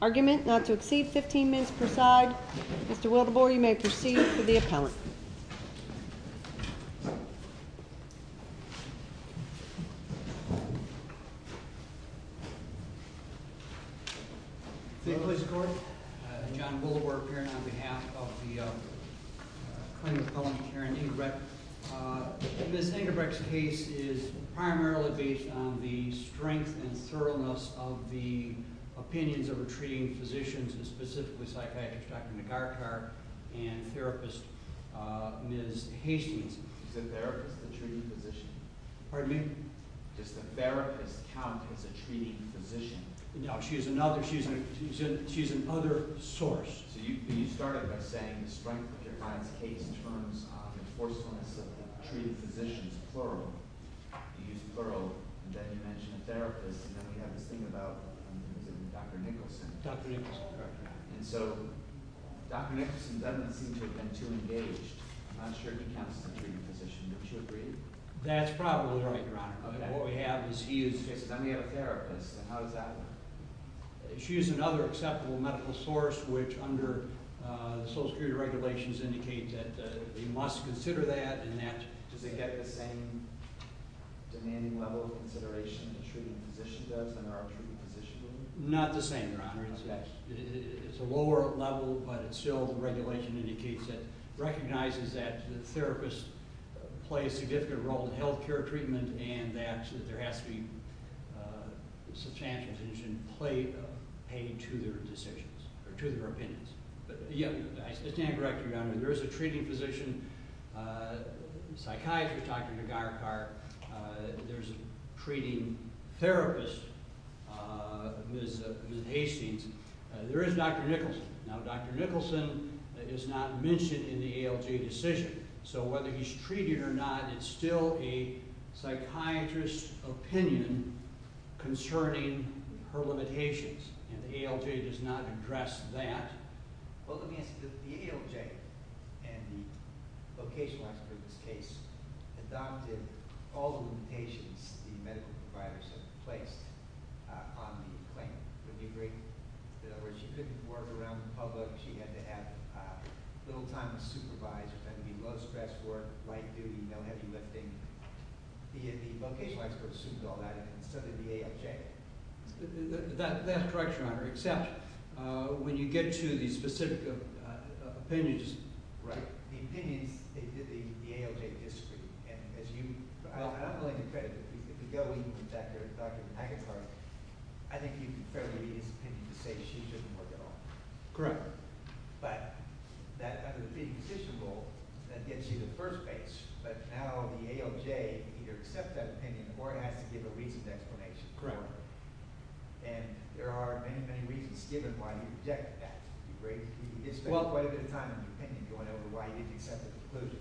Argument not to exceed 15 minutes per side. Mr. Wildenborg, you may proceed for the appellant. John Wildenborg, appearing on behalf of the U.S. Department of Justice. The claimant's name is Karen Engbrecht. Ms. Engbrecht's case is primarily based on the strength and thoroughness of the opinions of her treating physicians, specifically psychiatrist Dr. McArthur and therapist Ms. Hastings. Is the therapist the treating physician? Pardon me? Does the therapist count as a treating physician? No, she's another source. So you started by saying the strength of your client's case in terms of the forcefulness of the treated physicians, plural. You used plural, and then you mentioned a therapist, and then we have this thing about Dr. Nicholson. Dr. Nicholson, correct. And so Dr. Nicholson doesn't seem to have been too engaged. I'm not sure if she counts as a treating physician. Don't you agree? That's probably right, Your Honor. Okay. What we have is he is, let me have a therapist, and how does that work? She is another acceptable medical source, which under the Social Security regulations indicates that they must consider that and that – Does it get the same demanding level of consideration the treating physician does than our treating physician would? Not the same, Your Honor. Okay. It's a lower level, but it's still – the regulation indicates that – recognizes that the therapist plays a significant role in health care treatment and that there has to be substantial attention paid to their decisions or to their opinions. But yeah, I stand corrected, Your Honor. There is a treating physician psychiatrist, Dr. Nagarkar. There's a treating therapist, Ms. Hastings. There is Dr. Nicholson. Now, Dr. Nicholson is not mentioned in the ALJ decision, so whether he's treated or not, it's still a psychiatrist's opinion concerning her limitations, and the ALJ does not address that. Well, let me ask you, the ALJ and the vocational expert in this case adopted all the limitations the medical providers have placed on the claim. Wouldn't you agree? In other words, she couldn't work around the public. She had to have little time to supervise. It had to be low-stress work, light duty, no heavy lifting. The vocational expert assumed all that instead of the ALJ. That's correct, Your Honor. Except when you get to the specific opinions. Right. The opinions, they did the ALJ disagree. And as you – and I'm willing to credit – if we go even back to Dr. Nagarkar, I think you can fairly read his opinion to say she shouldn't work at all. Correct. But that under the treating physician rule, that gets you to the first base. But now the ALJ either accepts that opinion or has to give a recent explanation. Correct. And there are many, many reasons given why you object to that. You spent quite a bit of time in the opinion going over why you didn't accept the conclusion.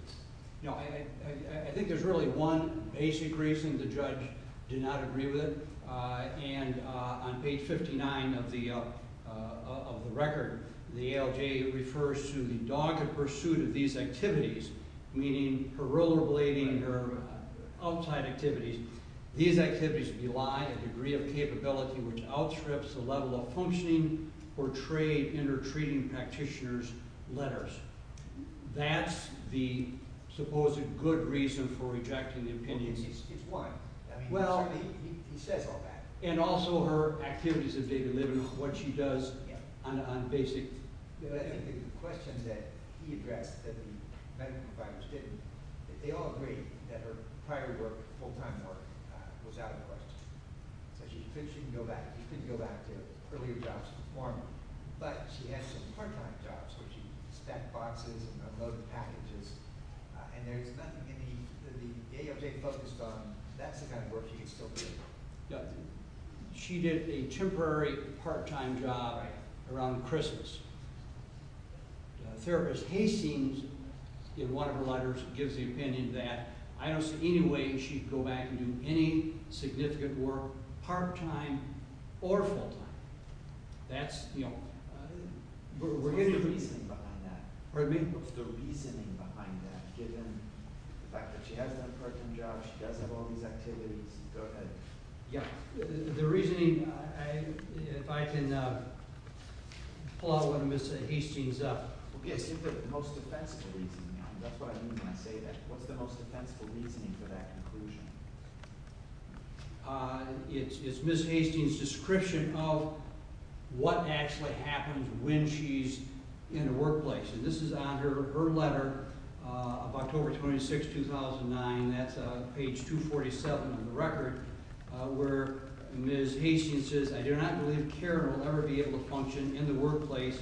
No, I think there's really one basic reason. The judge did not agree with it. And on page 59 of the record, the ALJ refers to the dogged pursuit of these activities, meaning parole or blading or outside activities. These activities rely on a degree of capability which outstrips the level of functioning or trait in her treating practitioner's letters. That's the supposed good reason for rejecting the opinion. It's one. Well – He says all that. And also her activities that they deliver, what she does on basic – I think the question that he addressed that the medical providers didn't, they all agreed that her prior work, full-time work, was out of the question. So she couldn't go back. She couldn't go back to earlier jobs to perform. But she had some part-time jobs where she stacked boxes and unloaded packages. And there's not many that the ALJ focused on. That's the kind of work she could still do. She did a temporary part-time job around Christmas. Therapist Hastings, in one of her letters, gives the opinion that I don't see any way she'd go back and do any significant work part-time or full-time. That's – What's the reasoning behind that? Pardon me? What's the reasoning behind that given the fact that she has that part-time job, she does have all these activities? Go ahead. Yeah. The reasoning – if I can pull out one of Ms. Hastings' – Okay, I said the most defensible reasoning. That's what I mean when I say that. What's the most defensible reasoning for that conclusion? It's Ms. Hastings' description of what actually happens when she's in the workplace. And this is on her letter of October 26, 2009. That's page 247 of the record, where Ms. Hastings says, I do not believe Karen will ever be able to function in the workplace,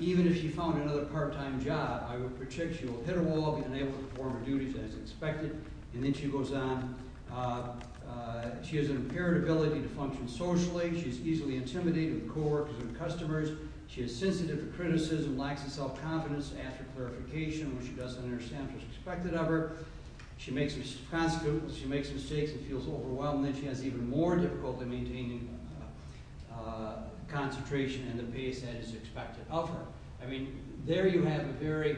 even if she found another part-time job. I would predict she will hit a wall, be unable to perform her duties as expected. And then she goes on. She has an impaired ability to function socially. She's easily intimidated with coworkers and customers. She is sensitive to criticism, lacks self-confidence after clarification when she doesn't understand what's expected of her. She makes mistakes and feels overwhelmed. And then she has even more difficulty maintaining concentration and the pace that is expected of her. I mean, there you have a very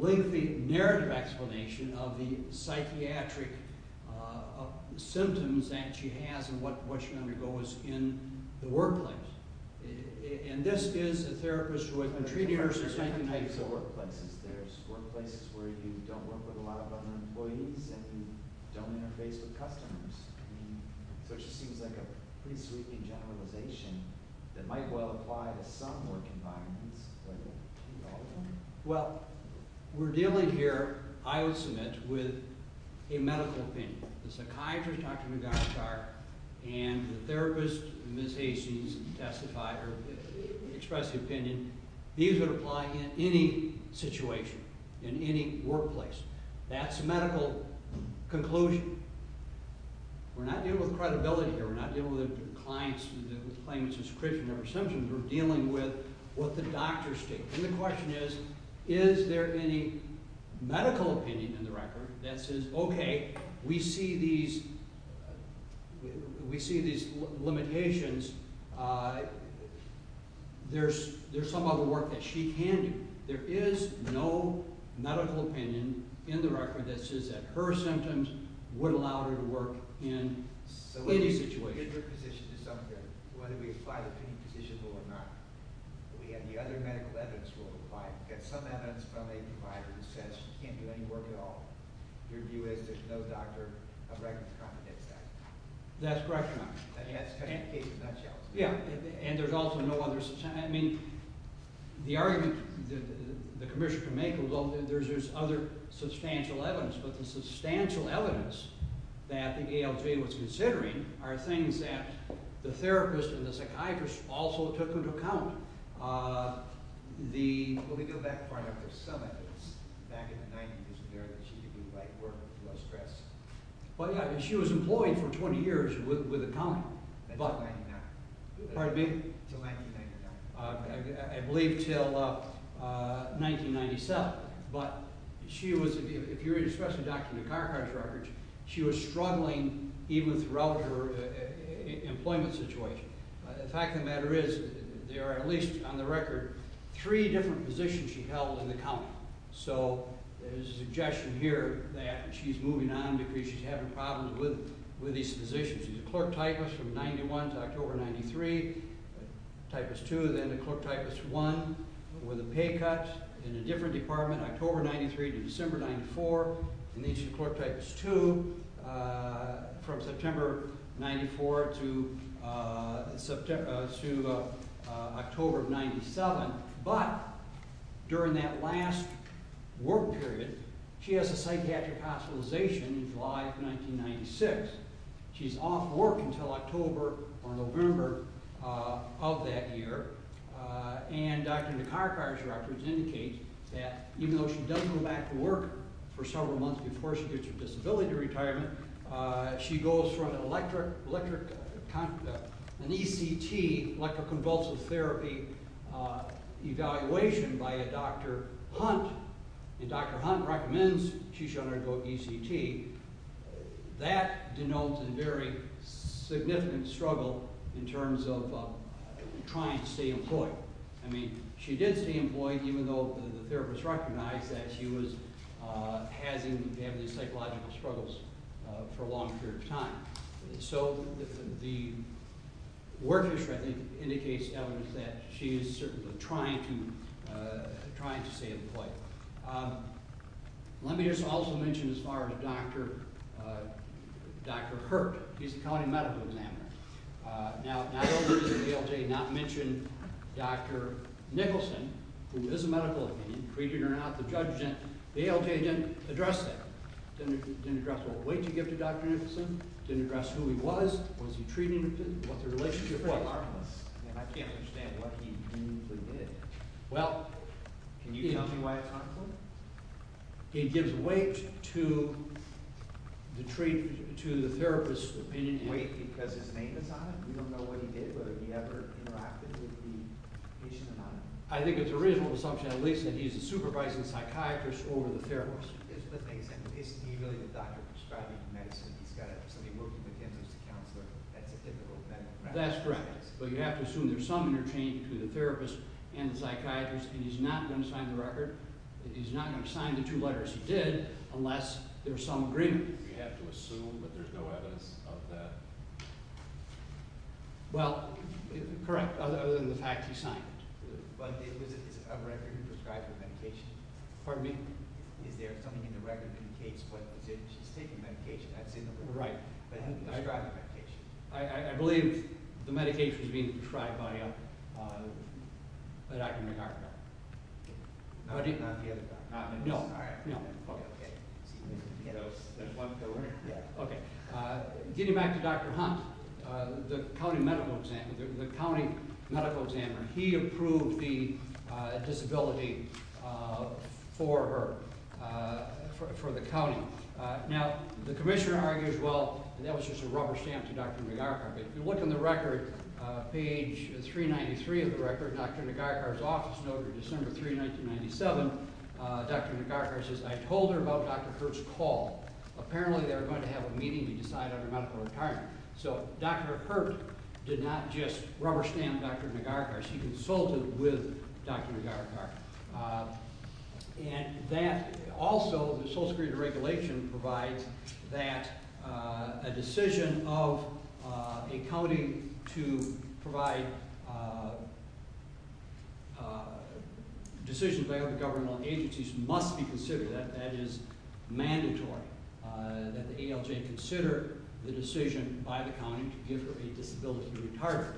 lengthy narrative explanation of the psychiatric symptoms that she has and what she undergoes in the workplace. And this is a therapist who has been treating her since 1990. There are different types of workplaces. There are workplaces where you don't work with a lot of other employees and you don't interface with customers. So it just seems like a pretty sweeping generalization that might well apply to some work environments, but not all of them. Well, we're dealing here, I would submit, with a medical opinion. The psychiatrist, Dr. McGonigal, and the therapist, Ms. Hastings, testify or express the opinion. These would apply in any situation, in any workplace. That's a medical conclusion. We're not dealing with credibility here. We're not dealing with clients who claim it's a secretion of their symptoms. We're dealing with what the doctors state. And the question is, is there any medical opinion in the record that says, okay, we see these limitations. There's some other work that she can do. There is no medical opinion in the record that says that her symptoms would allow her to work in any situation. Whether we apply the opinion positionable or not, we have the other medical evidence we'll provide. We've got some evidence from a provider who says she can't do any work at all. Your view is there's no doctor of records that competes with that. That's correct, Your Honor. And there's also no other – I mean, the argument the commissioner can make is there's other substantial evidence. But the substantial evidence that the ALJ was considering are things that the therapist and the psychiatrist also took into account. The – Let me go back for a minute. There's some evidence back in the 90s and there that she could do light work without stress. Well, yeah, and she was employed for 20 years with the county. Until 1999. Pardon me? Until 1999. I believe until 1997. But she was – if you're interested in Dr. Nekarkar's records, she was struggling even throughout her employment situation. The fact of the matter is there are at least, on the record, three different positions she held in the county. So there's a suggestion here that she's moving on because she's having problems with these positions. She's a clerk typist from 1991 to October 1993, a typist two, then a clerk typist one with a pay cut in a different department October 1993 to December 1994, and then she's a clerk typist two from September 1994 to October 1997. But during that last work period, she has a psychiatric hospitalization in July 1996. She's off work until October or November of that year. And Dr. Nekarkar's records indicate that even though she does go back to work for several months before she gets her disability retirement, she goes for an ECT, electroconvulsive therapy, evaluation by a Dr. Hunt. And Dr. Hunt recommends she should undergo ECT. That denotes a very significant struggle in terms of trying to stay employed. I mean, she did stay employed even though the therapist recognized that she was having these psychological struggles for a long period of time. So the work history, I think, indicates evidence that she is certainly trying to stay employed. Let me just also mention as far as Dr. Hurt. He's a county medical examiner. Now, not only did the ALJ not mention Dr. Nicholson, who is a medical opinion, treated or not, the ALJ didn't address that, didn't address what weight you give to Dr. Nicholson, didn't address who he was, was he treated, what the relationship was. I can't understand what he really did. Can you tell me why it's not clear? It gives weight to the therapist's opinion. Weight because his name is on it? We don't know what he did, whether he ever interacted with the patient or not. I think it's a reasonable assumption at least that he's a supervising psychiatrist over the therapist. Isn't he really the doctor prescribing the medicine? He's got somebody working with him who's the counselor. That's a typical medical practice. That's correct, but you have to assume there's some interchange between the therapist and the psychiatrist, and he's not going to sign the record. He's not going to sign the two letters he did unless there's some agreement. You have to assume, but there's no evidence of that? Well, correct, other than the fact he signed it. But is it a record prescribing medication? Pardon me? Is there something in the record that indicates what position she's taking medication? I believe the medication is being prescribed by Dr. McArthur. Not the other doctor? No. Okay. Getting back to Dr. Hunt, the county medical examiner, he approved the disability for her, for the county. Now, the commissioner argues, well, that was just a rubber stamp to Dr. McArthur. But if you look on the record, page 393 of the record, Dr. McArthur's office note of December 3, 1997, Dr. McArthur says, I told her about Dr. Hurt's call. Apparently they were going to have a meeting to decide on her medical retirement. So Dr. Hurt did not just rubber stamp Dr. McArthur. She consulted with Dr. McArthur. And that also, the social security regulation provides that a decision of a county to provide decisions by other government agencies must be considered. That is mandatory. That the ALJ consider the decision by the county to give her a disability retirement.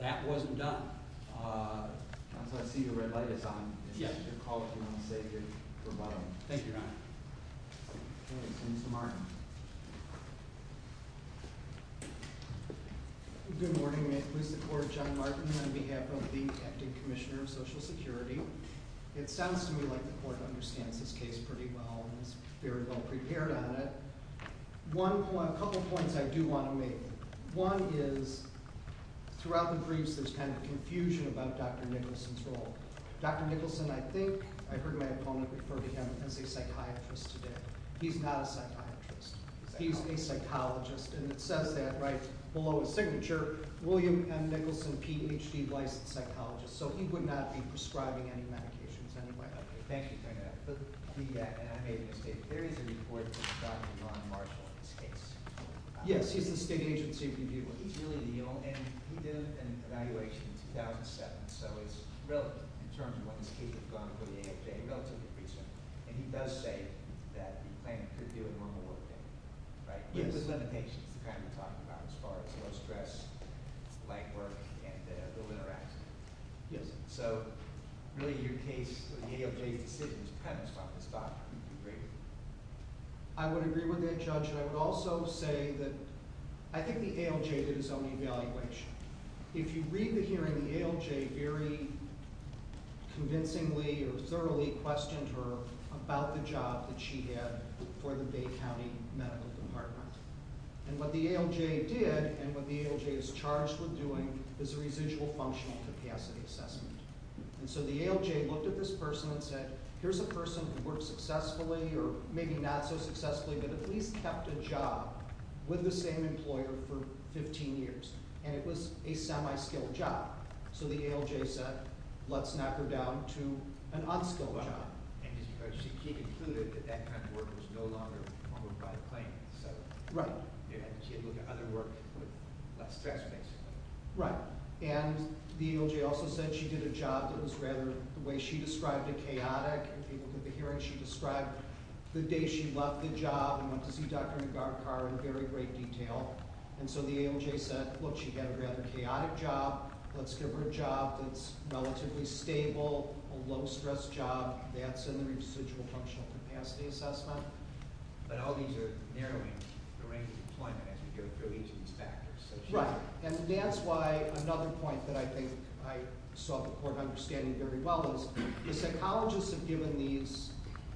That wasn't done. Counsel, I see your red light is on. Yes. You're called to the room to say your rebuttal. Thank you, Your Honor. Okay. Mr. Martin. Good morning. May it please the court, John Martin on behalf of the acting commissioner of social security. It sounds to me like the court understands this case pretty well and is very well prepared on it. A couple points I do want to make. One is throughout the briefs there's kind of confusion about Dr. Nicholson's role. Dr. Nicholson, I think I heard my opponent refer to him as a psychiatrist today. He's not a psychiatrist. He's a psychologist. And it says that right below his signature, William M. Nicholson, Ph.D., licensed psychologist. So he would not be prescribing any medications anyway. Thank you, Your Honor. And I made a mistake. There is a report from Dr. John Marshall in this case. Yes. He's the state agency reviewer. He's really legal, and he did an evaluation in 2007. So it's relative in terms of when this case would have gone for the AFJ, relatively recent. And he does say that the claimant could do a normal workday. Right? Yes. But there's limitations, the kind we're talking about as far as low stress, leg work, and the little interaction. Yes. So really your case, the AFJ's decision is premised on this doctrine. Do you agree? I would agree with that, Judge. And I would also say that I think the ALJ did his own evaluation. If you read the hearing, the ALJ very convincingly or thoroughly questioned her about the job that she had for the Bay County Medical Department. And what the ALJ did and what the ALJ is charged with doing is a residual functional capacity assessment. And so the ALJ looked at this person and said, here's a person who worked successfully or maybe not so successfully but at least kept a job with the same employer for 15 years. And it was a semi-skilled job. So the ALJ said, let's knock her down to an unskilled job. And she concluded that that kind of work was no longer performed by the claimant. Right. She had to look at other work with less stress, basically. Right. And the ALJ also said she did a job that was rather, the way she described it, chaotic. In the hearing she described the day she left the job and went to see Dr. Nagarkar in very great detail. And so the ALJ said, look, she had a rather chaotic job. Let's give her a job that's relatively stable, a low-stress job. That's in the residual functional capacity assessment. But all these are narrowing the range of employment as we go through each of these factors. Right. And that's why another point that I think I saw the court understanding very well is the psychologists have given these,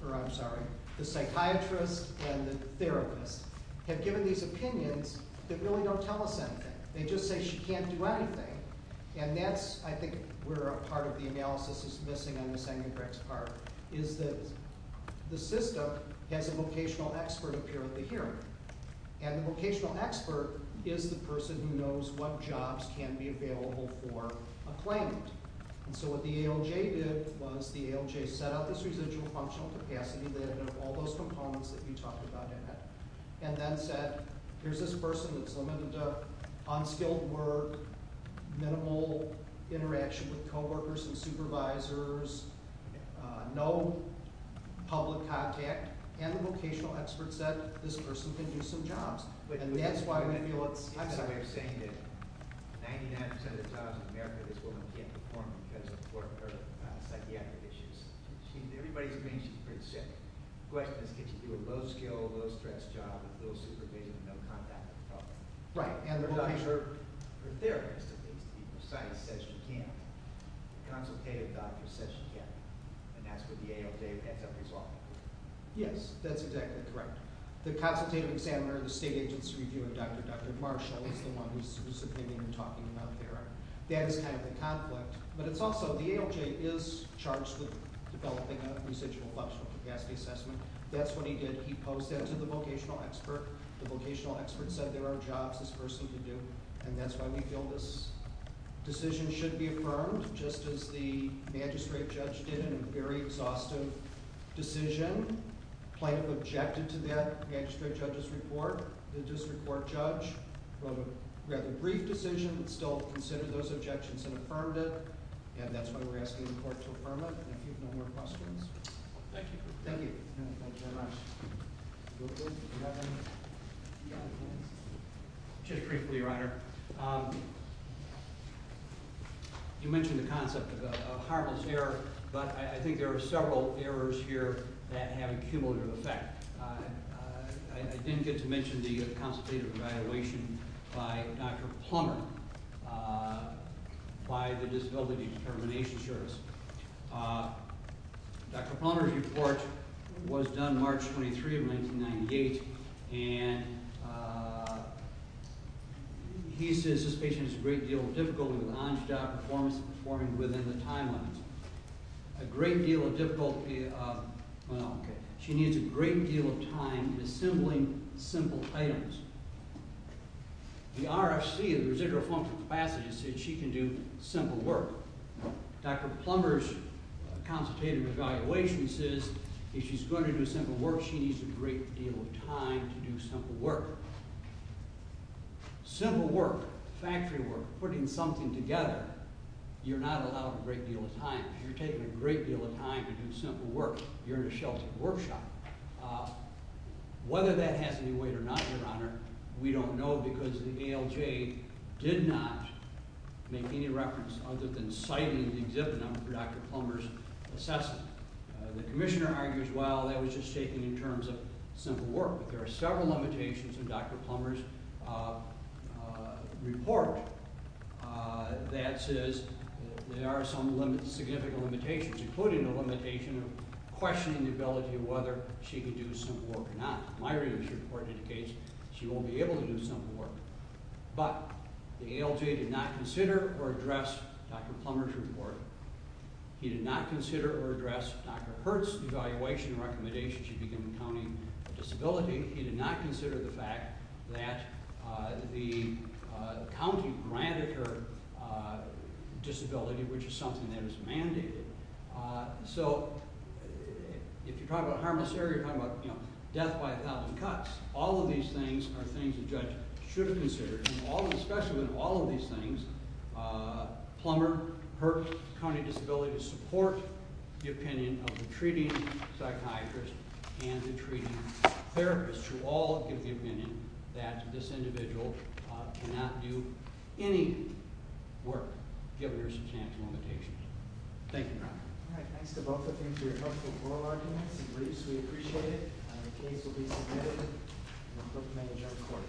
or I'm sorry, the psychiatrists and the therapists have given these opinions that really don't tell us anything. They just say she can't do anything. And that's, I think, where a part of the analysis is missing on Ms. Engenbrecht's part, is that the system has a vocational expert appear at the hearing. And the vocational expert is the person who knows what jobs can be available for a claimant. And so what the ALJ did was the ALJ set out this residual functional capacity that had all those components that you talked about in it and then said, here's this person that's limited to unskilled work, minimal interaction with coworkers and supervisors, no public contact. And the vocational expert said this person can do some jobs. I'm sorry. I'm saying that 99% of the jobs in America this woman can't perform because of psychiatric issues. Everybody thinks she's pretty sick. The question is, can she do a low-skill, low-stress job with little supervision and no contact with coworkers? Right. And her therapist, it needs to be precise, says she can't. The consultative doctor says she can't. And that's what the ALJ has to resolve. Yes, that's exactly correct. The consultative examiner, the state agency reviewer, Dr. Dr. Marshall, is the one who's subpoenaing and talking about there. That is kind of the conflict. But it's also the ALJ is charged with developing a residual functional capacity assessment. That's what he did. He posed that to the vocational expert. The vocational expert said there are jobs this person can do. And that's why we feel this decision should be affirmed, just as the magistrate judge did in a very exhaustive decision. The plaintiff objected to that magistrate judge's report. The district court judge wrote a rather brief decision, but still considered those objections and affirmed it. And that's why we're asking the court to affirm it. If you have no more questions. Thank you. Thank you. Thank you very much. Do we have any other questions? Just briefly, Your Honor, you mentioned the concept of a harmless error. But I think there are several errors here that have a cumulative effect. I didn't get to mention the consultative evaluation by Dr. Plummer, by the Disability Determination Service. Dr. Plummer's report was done March 23, 1998. And he says this patient has a great deal of difficulty with on-job performance and performing within the time limits. A great deal of difficulty – well, okay. She needs a great deal of time in assembling simple items. The RFC, the residual functional capacity, said she can do simple work. Dr. Plummer's consultative evaluation says if she's going to do simple work, she needs a great deal of time to do simple work. Simple work, factory work, putting something together, you're not allowed a great deal of time. If you're taking a great deal of time to do simple work, you're in a sheltered workshop. Whether that has any weight or not, Your Honor, we don't know because the ALJ did not make any reference other than citing the exhibit number for Dr. Plummer's assessment. The commissioner argues, well, that was just taken in terms of simple work. But there are several limitations in Dr. Plummer's report. That is, there are some significant limitations, including the limitation of questioning the ability of whether she can do simple work or not. My review report indicates she won't be able to do simple work. But the ALJ did not consider or address Dr. Plummer's report. He did not consider or address Dr. Hurt's evaluation and recommendation she begin accounting for disability. He did not consider the fact that the county granted her disability, which is something that is mandated. So if you're talking about harmless error, you're talking about death by a thousand cuts. All of these things are things the judge should have considered. Especially with all of these things, Plummer hurt county disability to support the opinion of the treating psychiatrist and the treating therapist, who all give the opinion that this individual cannot do any work, given her substantial limitations. Thank you, Your Honor. All right, thanks to both of them for your helpful oral arguments. We appreciate it. The case will be submitted. We hope to manage on court.